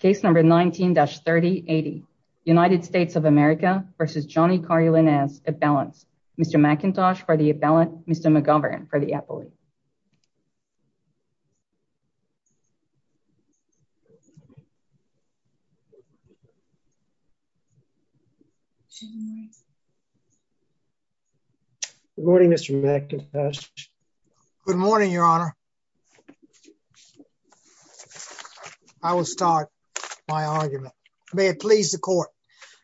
Case number 19-3080 United States of America v. Johnny Carly Lainez. A balance. Mr Macintosh for the appellant. Mr McGovern for the appellate. Morning, Mr Macintosh. Good morning, Your Honor. I will start my argument. May it please the court.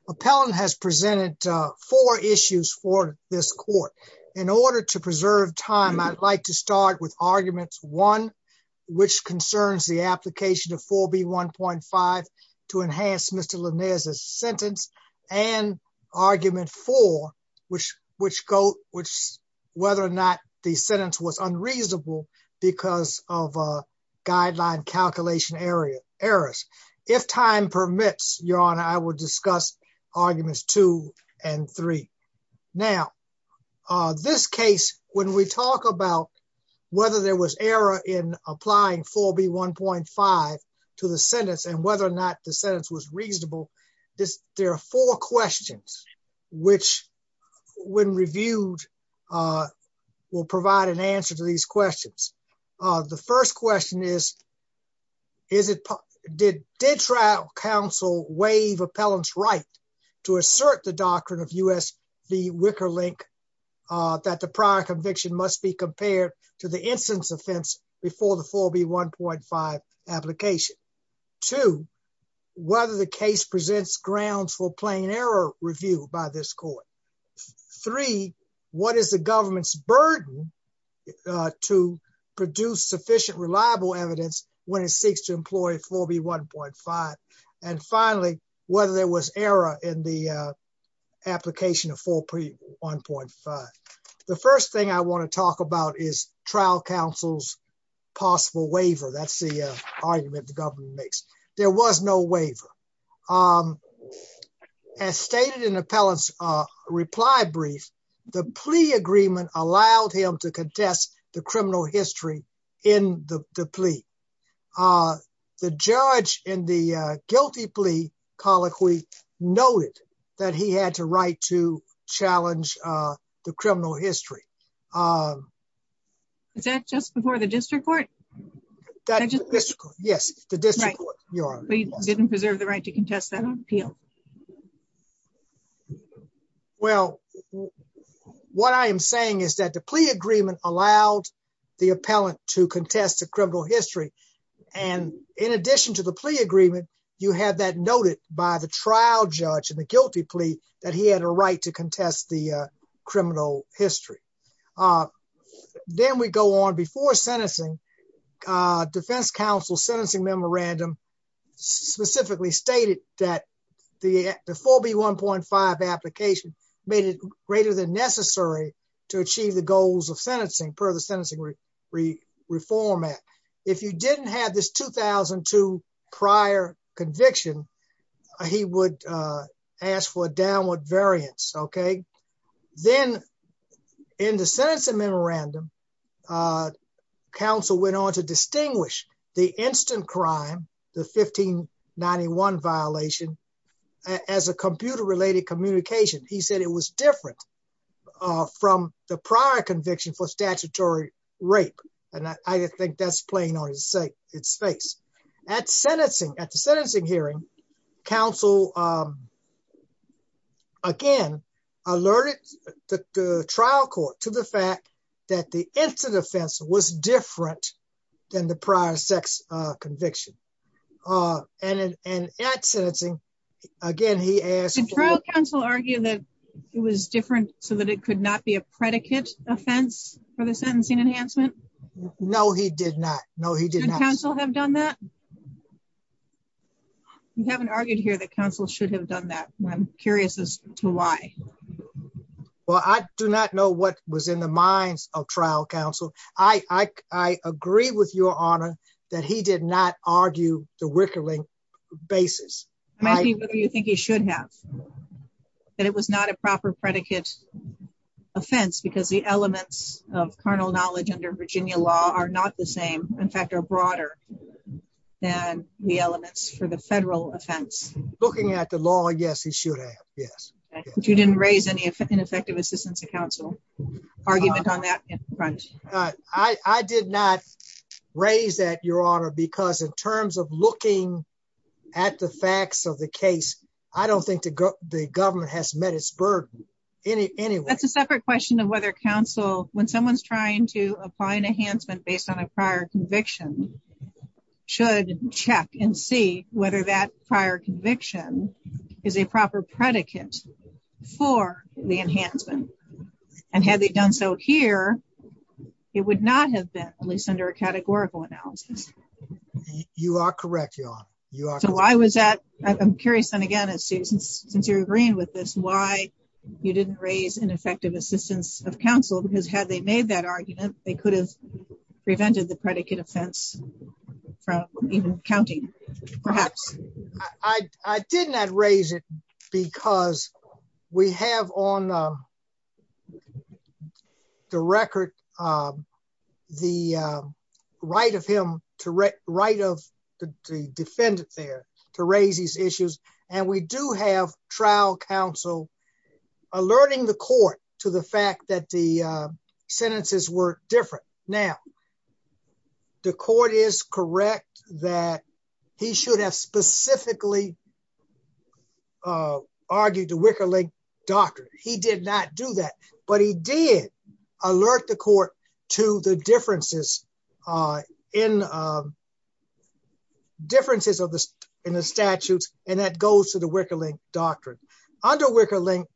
Appellant has presented four issues for this court. In order to preserve time, I'd like to start with arguments one, which concerns the application of 4B1.5 to enhance Mr Lainez's sentence, and argument four, which whether or not the sentence was unreasonable, because of a guideline calculation errors. If time permits, Your Honor, I will discuss arguments two and three. Now, this case, when we talk about whether there was error in applying 4B1.5 to the sentence and whether or not the sentence was reasonable, there are four questions which, when reviewed, will provide an answer to these questions. The first question is, did trial counsel waive appellant's right to assert the doctrine of U.S. v. Wickerlink that the prior conviction must be compared to the instance offense before the 4B1.5 application? Two, whether the case presents grounds for plain error review by this court? Three, what is the government's burden to produce sufficient reliable evidence when it seeks to employ 4B1.5? And finally, whether there was error in the argument the government makes. There was no waiver. As stated in the appellant's reply brief, the plea agreement allowed him to contest the criminal history in the plea. The judge in the guilty plea colloquy noted that he had the right to challenge the criminal history. Is that just before the district court? That's the district court, yes, the district court. Right. We didn't preserve the right to contest that on appeal. Well, what I am saying is that the plea agreement allowed the appellant to contest the criminal history. And in addition to the plea agreement, you have that noted by the trial judge in the guilty plea that he had a right to contest the criminal history. Then we go on. Before sentencing, defense counsel's sentencing memorandum specifically stated that the 4B1.5 application made it greater than necessary to achieve the goals of sentencing per the Sentencing Reform Act. If you didn't have this 2002 prior conviction, he would ask for a downward variance, okay? Then in the sentencing memorandum, counsel went on to distinguish the instant crime, the 1591 violation, as a computer-related communication. He said it was different from the prior conviction for statutory rape. And I think that's playing on its face. At sentencing, at the sentencing hearing, counsel again alerted the trial court to the fact that the instant offense was different than the prior sex conviction. And at sentencing, again, he asked for- Did trial counsel argue that it was different so that it could not be a predicate offense for the sentencing enhancement? No, he did not. No, he did not. You haven't argued here that counsel should have done that. I'm curious as to why. Well, I do not know what was in the minds of trial counsel. I agree with your honor that he did not argue the Wickering basis. I'm asking whether you think he should have, that it was not a proper predicate offense because the elements of carnal knowledge under Virginia law are not the same, in fact, are broader than the elements for the federal offense. Looking at the law, yes, he should have, yes. But you didn't raise any ineffective assistance to counsel argument on that front. I did not raise that, your honor, because in terms of looking at the facts of the case, I don't think the government has met its burden in any way. That's a separate question of whether counsel, when someone's trying to apply an enhancement based on a prior conviction, should check and see whether that prior conviction is a proper predicate for the enhancement. And had they done so here, it would not have been, at least under a categorical analysis. You are correct, your honor. So why was that? I'm curious, and again, since you're agreeing with this, why you didn't raise ineffective assistance of counsel, because had they made that argument, they could have prevented the predicate offense from even counting, perhaps. I did not raise it because we have on the record the right of him, right of the defendant there to raise these issues. And we do have trial counsel alerting the court to the fact that the sentences were different. Now, the court is correct that he should have specifically argued the Wicker Link doctrine. He did not do that. But he did alert the court to the differences in the statutes, and that goes to the Wicker Link doctrine. Under Wicker Link,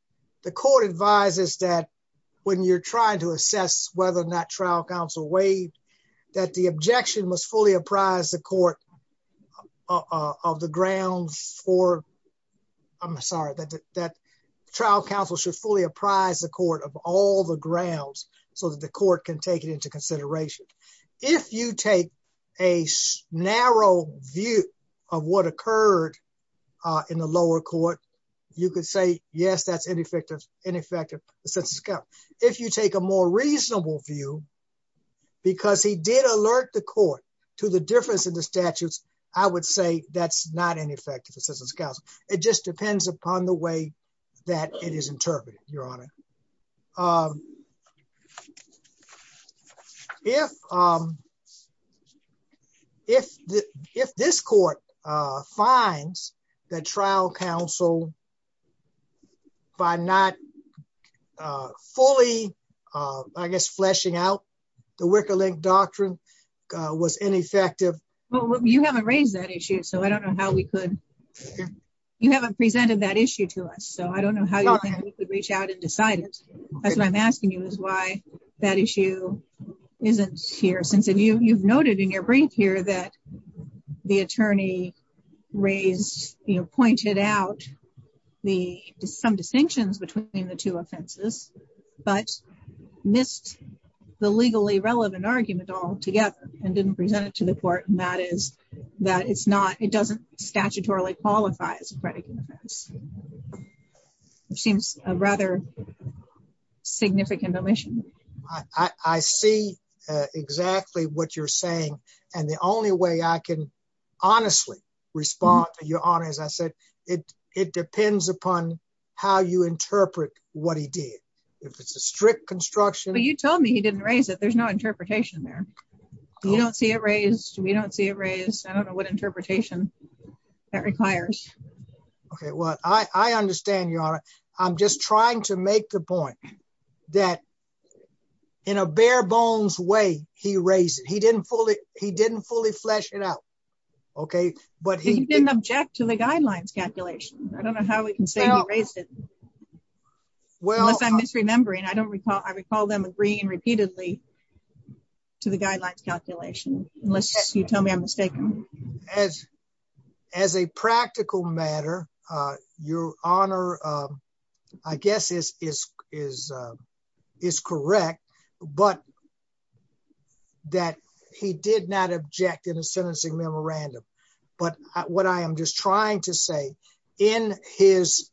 the court advises that when you're trying to assess whether or not trial counsel waived, that the objection must fully apprise the court of the grounds for, I'm sorry, that trial counsel should fully apprise the court of all the grounds so that the court can take it into consideration. If you take a narrow view of what occurred in the lower court, you could say, yes, that's ineffective assistance of counsel. If you take a more reasonable view, because he did alert the court to the difference in the statutes, I would say that's not ineffective assistance of counsel. It just depends upon the way that it is interpreted, Your Honor. If this court finds that trial counsel, by not fully, I guess, fleshing out the Wicker Link doctrine was ineffective. Well, you haven't raised that issue, so I don't know how we could, you haven't presented that issue to us, so I don't know how you think we could reach out and decide it. That's what I'm asking you is why that issue isn't here, since you've noted in your brief here that the attorney raised, you know, pointed out some distinctions between the two offenses, but missed the legally relevant argument altogether and didn't present it to the court. And that is that it's not, it doesn't statutorily qualify as a predicate offense, which seems a rather significant omission. I see exactly what you're saying, and the only way I can honestly respond to Your Honor, as I said, it depends upon how you interpret what he did. If it's a strict construction. But you told me he didn't raise it. There's no interpretation there. You don't see it raised. We don't see it raised. I don't know what interpretation that requires. Okay, well, I understand, Your Honor. I'm just trying to make the point that in a bare bones way, he raised it. He didn't fully, he didn't fully flesh it out. Okay, but he didn't object to the guidelines calculation. I don't know how we can say he raised it, unless I'm misremembering. I don't recall. I recall them agreeing repeatedly to the guidelines calculation, unless you tell me I'm mistaken. As a practical matter, Your Honor, I guess is correct, but that he did not object in a sentencing memorandum. But what I am just trying to say, in his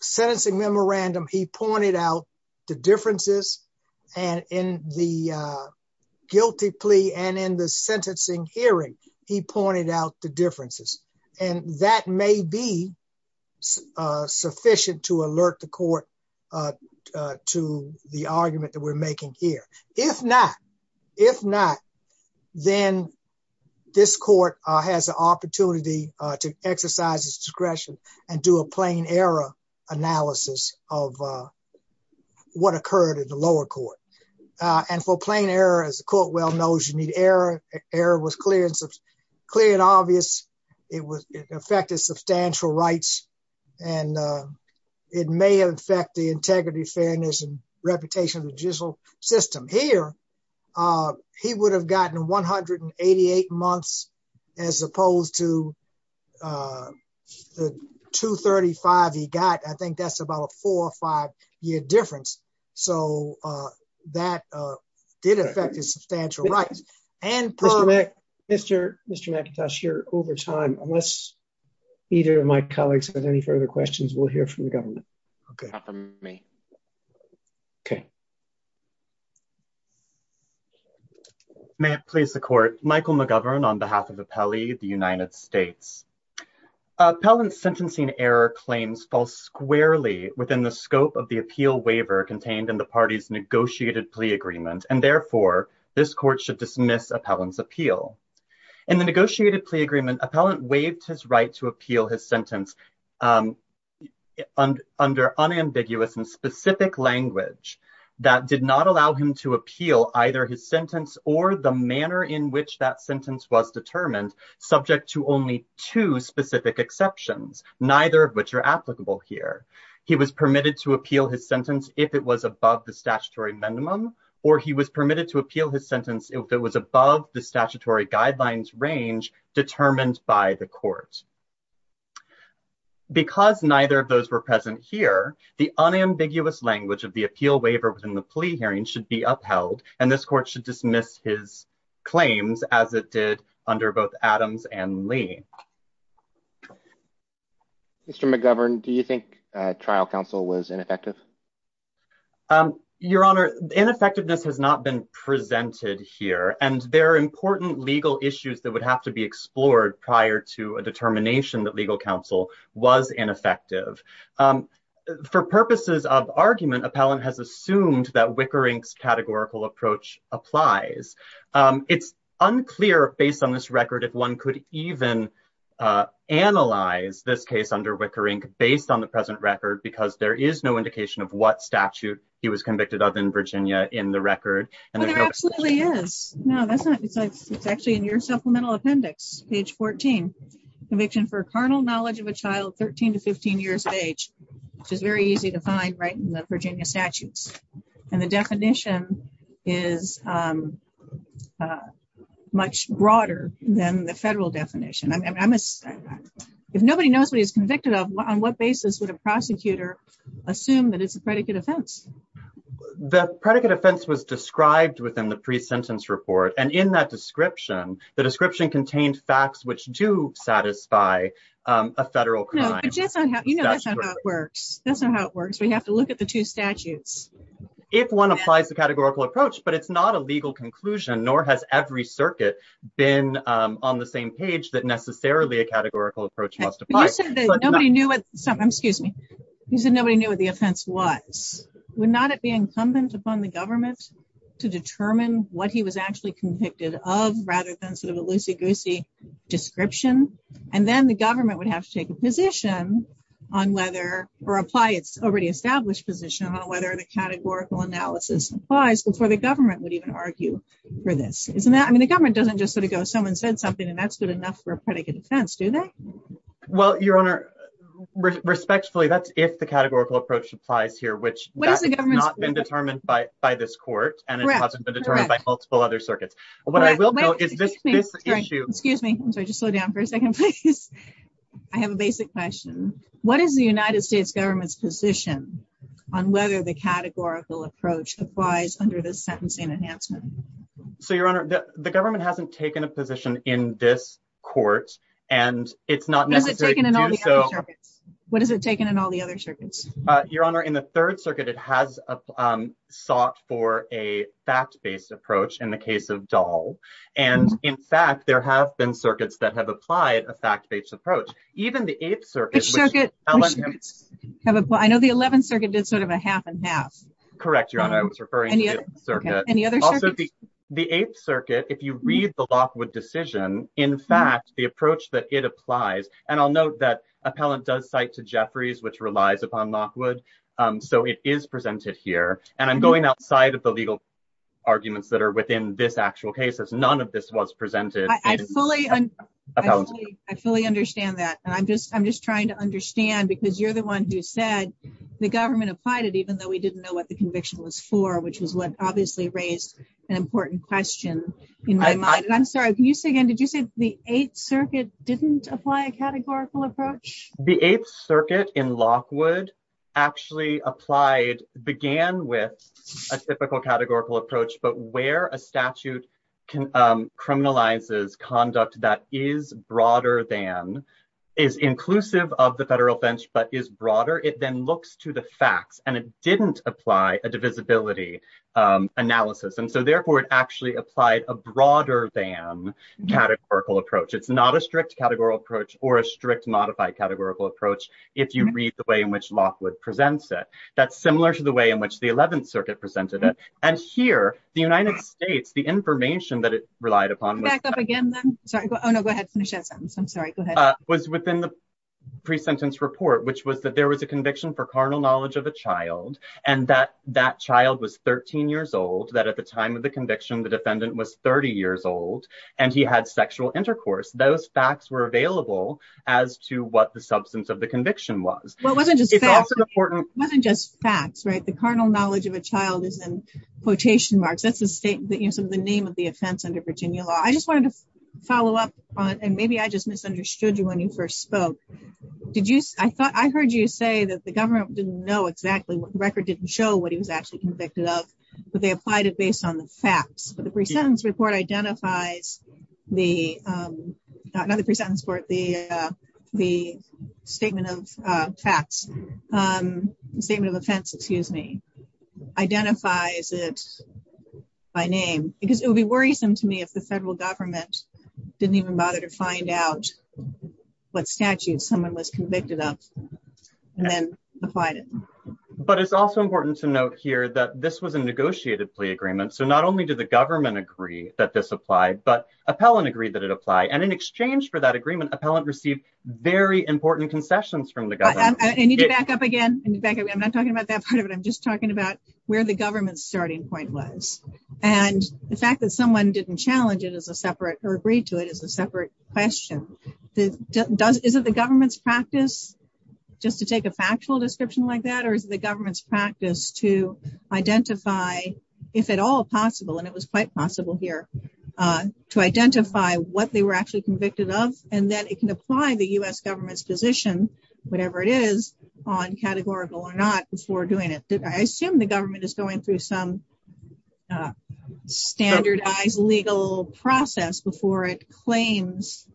sentencing memorandum, he pointed out the differences. And in the guilty plea and in the sentencing hearing, he pointed out the differences. And that may be sufficient to alert the court to the argument that we're making here. If not, if not, then this court has an opportunity to exercise its discretion and do a plain error analysis of what occurred in the lower court. And for plain error, as the court well knows, you need error. Error was clear and obvious. It affected substantial rights. And it may affect the integrity, fairness and reputation of the judicial system. Here, he would have gotten 188 months, as opposed to the 235 he got. I think that's about a four or five year difference. So that did affect his substantial rights. And Mr. McIntosh, you're over time. Unless either of my colleagues has any further questions, we'll hear from the government. May it please the court. Michael McGovern, on behalf of Appellee, the United States. Appellant's sentencing error claims fall squarely within the scope of the appeal waiver contained in the party's negotiated plea agreement. And therefore, this court should dismiss Appellant's appeal. In the negotiated plea agreement, Appellant waived his right to appeal his sentence under unambiguous and specific language that did not allow him to appeal either his sentence or the manner in which that sentence was determined, subject to only two specific exceptions, neither of which are applicable here. He was permitted to appeal his sentence if it was above the statutory minimum, or he was permitted to appeal his sentence if it was above the statutory guidelines range determined by the court. Because neither of those were present here, the unambiguous language of the appeal waiver within the plea hearing should be upheld. And this court should dismiss his claims as it did under both Adams and Lee. Mr. McGovern, do you think trial counsel was ineffective? Your Honor, ineffectiveness has not been presented here. And there are important legal issues that would have to be explored prior to a determination that legal counsel was ineffective. For purposes of argument, Appellant has assumed that Wicker Inc.'s categorical approach applies. It's unclear, based on this record, if one could even analyze this case under Wicker Inc. based on the present record, because there is no indication of what statute he was convicted of in Virginia in the record. Well, there absolutely is. No, it's actually in your supplemental appendix, page 14. Conviction for carnal knowledge of a child 13 to 15 years of age, which is very easy to find right in the Virginia statutes. And the definition is much broader than the federal definition. I mean, if nobody knows what he's convicted of, on what basis would a prosecutor assume that it's a predicate offense? The predicate offense was described within the pre-sentence report. And in that description, the description contained facts which do satisfy a federal crime. No, but you know that's not how it works. That's not how it works. We have to look at the two statutes. If one applies the categorical approach, but it's not a legal conclusion, nor has every a categorical approach justified. You said that nobody knew what the offense was. Would not it be incumbent upon the government to determine what he was actually convicted of rather than sort of a loosey-goosey description? And then the government would have to take a position on whether, or apply its already established position on whether the categorical analysis applies before the government would even argue for this, isn't that? I mean, the government doesn't just sort of go, someone said something, and that's good defense, do they? Well, Your Honor, respectfully, that's if the categorical approach applies here, which has not been determined by this court, and it hasn't been determined by multiple other circuits. What I will note is this issue. Excuse me. I'm sorry, just slow down for a second, please. I have a basic question. What is the United States government's position on whether the categorical approach applies under this sentencing enhancement? So, Your Honor, the government hasn't taken a position in this court, and it's not necessary to do so. What has it taken in all the other circuits? Your Honor, in the Third Circuit, it has sought for a fact-based approach in the case of Dahl, and in fact, there have been circuits that have applied a fact-based approach. Even the Eighth Circuit. Which circuit? I know the Eleventh Circuit did sort of a half and half. Any other circuits? The Eighth Circuit, if you read the Lockwood decision, in fact, the approach that it applies, and I'll note that Appellant does cite to Jeffries, which relies upon Lockwood, so it is presented here. And I'm going outside of the legal arguments that are within this actual case, as none of this was presented. I fully understand that, and I'm just trying to understand, because you're the one who said the government applied it, even though we didn't know what the conviction was for, which is what obviously raised an important question in my mind. I'm sorry, can you say again, did you say the Eighth Circuit didn't apply a categorical approach? The Eighth Circuit in Lockwood actually applied, began with a typical categorical approach, but where a statute criminalizes conduct that is broader than, is inclusive of the Federal bench, but is broader, it then looks to the facts, and it didn't apply a divisibility analysis. And so therefore, it actually applied a broader than categorical approach. It's not a strict categorical approach or a strict modified categorical approach, if you read the way in which Lockwood presents it. That's similar to the way in which the Eleventh Circuit presented it. And here, the United States, the information that it relied upon- Back up again, then. Sorry, oh no, go ahead, finish that sentence. I'm sorry, go ahead. Was within the pre-sentence report, which was that there was a conviction for carnal knowledge of a child, and that that child was 13 years old, that at the time of the conviction, the defendant was 30 years old, and he had sexual intercourse. Those facts were available as to what the substance of the conviction was. Well, it wasn't just facts, right? The carnal knowledge of a child is in quotation marks. That's the name of the offense under Virginia law. I just wanted to follow up on, and maybe I just misunderstood you when you first spoke. I heard you say that the government didn't know exactly, the record didn't show what he was actually convicted of, but they applied it based on the facts. But the pre-sentence report identifies the, not the pre-sentence report, the statement of facts, the statement of offense, excuse me, identifies it by name. Because it would be worrisome to me if the federal government didn't even bother to find out what statute someone was convicted of, and then applied it. But it's also important to note here that this was a negotiated plea agreement. So not only did the government agree that this applied, but appellant agreed that it applied. And in exchange for that agreement, appellant received very important concessions from the government. I need to back up again. I'm not talking about that part of it. I'm just talking about where the government's starting point was. And the fact that someone didn't challenge it as a separate or agreed to it as a separate question. Is it the government's practice just to take a factual description like that? Or is the government's practice to identify, if at all possible, and it was quite possible here, to identify what they were actually convicted of? And then it can apply the U.S. government's position, whatever it is, on categorical or not before doing it. I assume the government is going through some standardized legal process before it claims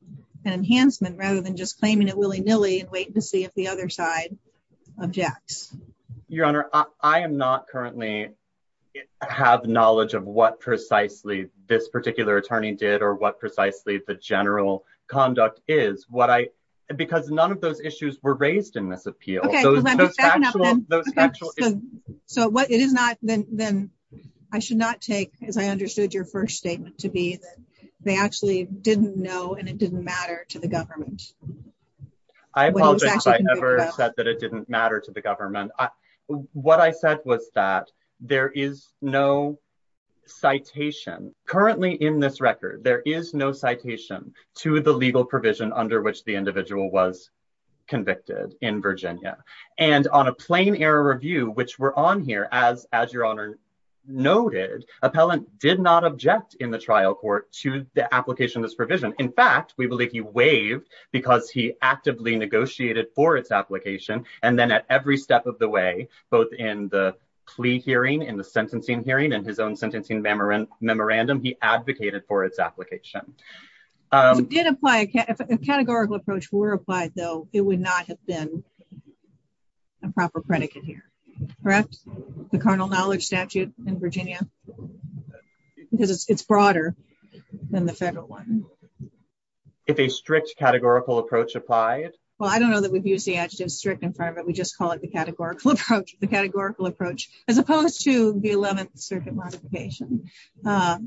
an enhancement, rather than just claiming it willy-nilly and wait to see if the other side objects. Your Honor, I am not currently have knowledge of what precisely this particular attorney did or what precisely the general conduct is. Because none of those issues were raised in this appeal. Okay, let me back up a bit. So what it is not, then I should not take, as I understood your first statement to be, that they actually didn't know and it didn't matter to the government. I apologize if I ever said that it didn't matter to the government. What I said was that there is no citation, currently in this record, there is no citation to the legal provision under which the individual was convicted in Virginia. On a plain error review, which we're on here, as your Honor noted, appellant did not object in the trial court to the application of this provision. In fact, we believe he waived because he actively negotiated for its application and then at every step of the way, both in the plea hearing and the sentencing hearing and his own sentencing memorandum, he advocated for its application. If a categorical approach were applied, though, it would not have been a proper predicate here, correct? The carnal knowledge statute in Virginia, because it's broader than the federal one. If a strict categorical approach applied? Well, I don't know that we've used the adjective strict in front of it, we just call it the categorical approach. The categorical approach, as opposed to the 11th Circuit modification,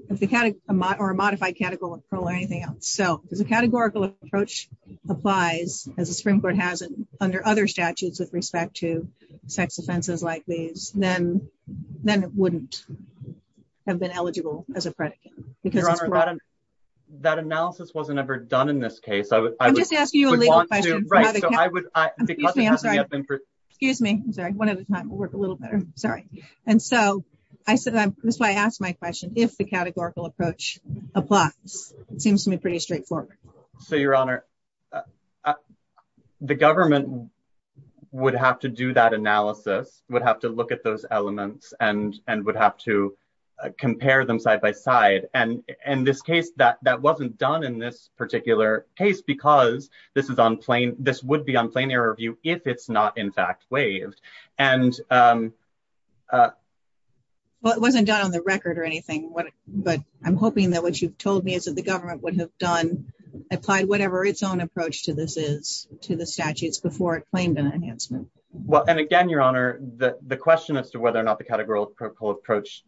if the category or a modified categorical or anything else. So, if the categorical approach applies, as the Supreme Court has it under other statutes with respect to sex offenses like these, then it wouldn't have been eligible as a predicate. Your Honor, that analysis wasn't ever done in this case. I'm just asking you a legal question. Excuse me. I'm sorry. One at a time will work a little better. Sorry. And so, this is why I asked my question. If the categorical approach applies, it seems to me pretty straightforward. So, Your Honor, the government would have to do that analysis, would have to look at those elements, and would have to compare them side by side. And in this case, that wasn't done in this particular case, because this would be on plain error view if it's not in fact waived. And... Well, it wasn't done on the record or anything. But I'm hoping that what you've told me is that the government would have done, applied whatever its own approach to this is to the statutes before it claimed an enhancement. Well, and again, Your Honor, the question as to whether or not the categorical approach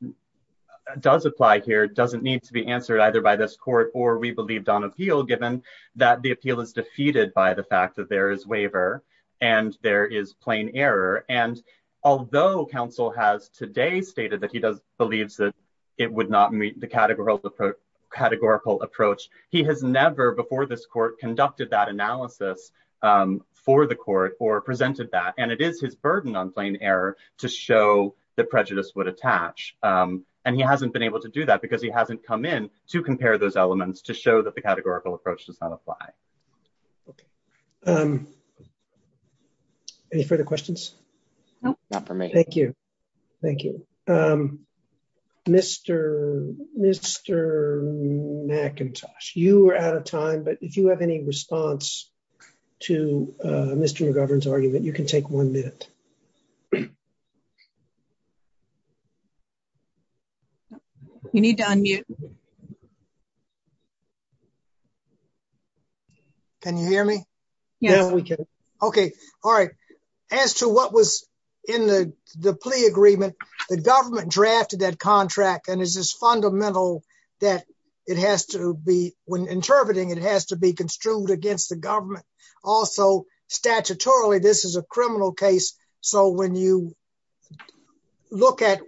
does apply here doesn't need to be answered either by this court or we believed on appeal, given that the appeal is defeated by the fact that there is waiver, and there is plain error. And although counsel has today stated that he does believes that it would not meet the categorical approach, he has never before this court conducted that analysis for the court or presented that. And it is his burden on plain error to show the prejudice would attach. And he hasn't been able to do that because he hasn't come in to compare those elements to show that the categorical approach does not apply. Okay. Any further questions? No, not for me. Thank you. Thank you. Mr. McIntosh, you are out of time. But if you have any response to Mr. McGovern's argument, you can take one minute. You need to unmute. Can you hear me? Yes, we can. Okay. All right. As to what was in the plea agreement, the government drafted that contract. And it's just fundamental that it has to be when interpreting, it has to be construed against the government. Also, statutorily, this is a criminal case. So when you look at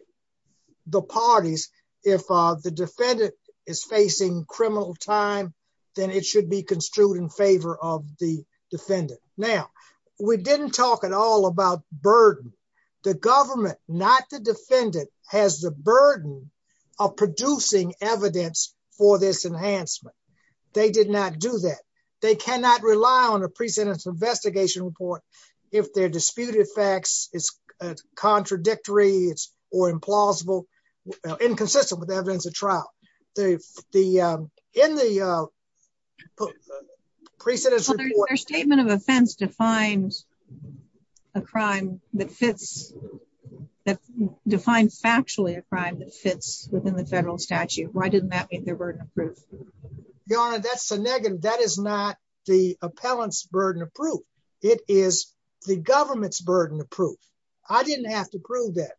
the parties, if the defendant is facing criminal time, then it should be construed in favor of the defendant. Now, we didn't talk at all about burden. The government, not the defendant, has the burden of producing evidence for this enhancement. They did not do that. They cannot rely on a pre-sentence investigation report if their disputed facts is contradictory or implausible, inconsistent with evidence of trial. In the pre-sentence report- Their statement of offense defined factually a crime that fits within the federal statute. Why didn't that make their burden of proof? Your Honor, that is not the appellant's burden of proof. It is the government's burden of proof. I didn't have to prove that.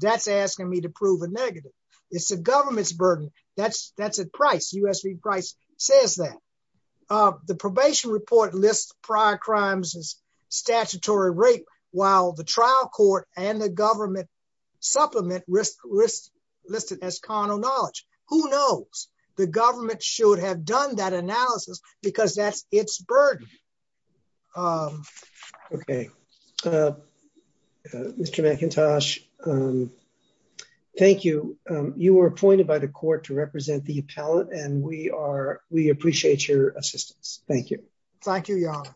That's asking me to prove a negative. It's the government's burden. That's at price. U.S. v. Price says that. The probation report lists prior crimes as statutory rape, while the trial court and the government supplement risk listed as carnal knowledge. Who knows? The government should have done that analysis because that's its burden. Okay. Mr. McIntosh, thank you. You were appointed by the court to represent the appellant, and we appreciate your assistance. Thank you. Thank you, Your Honor.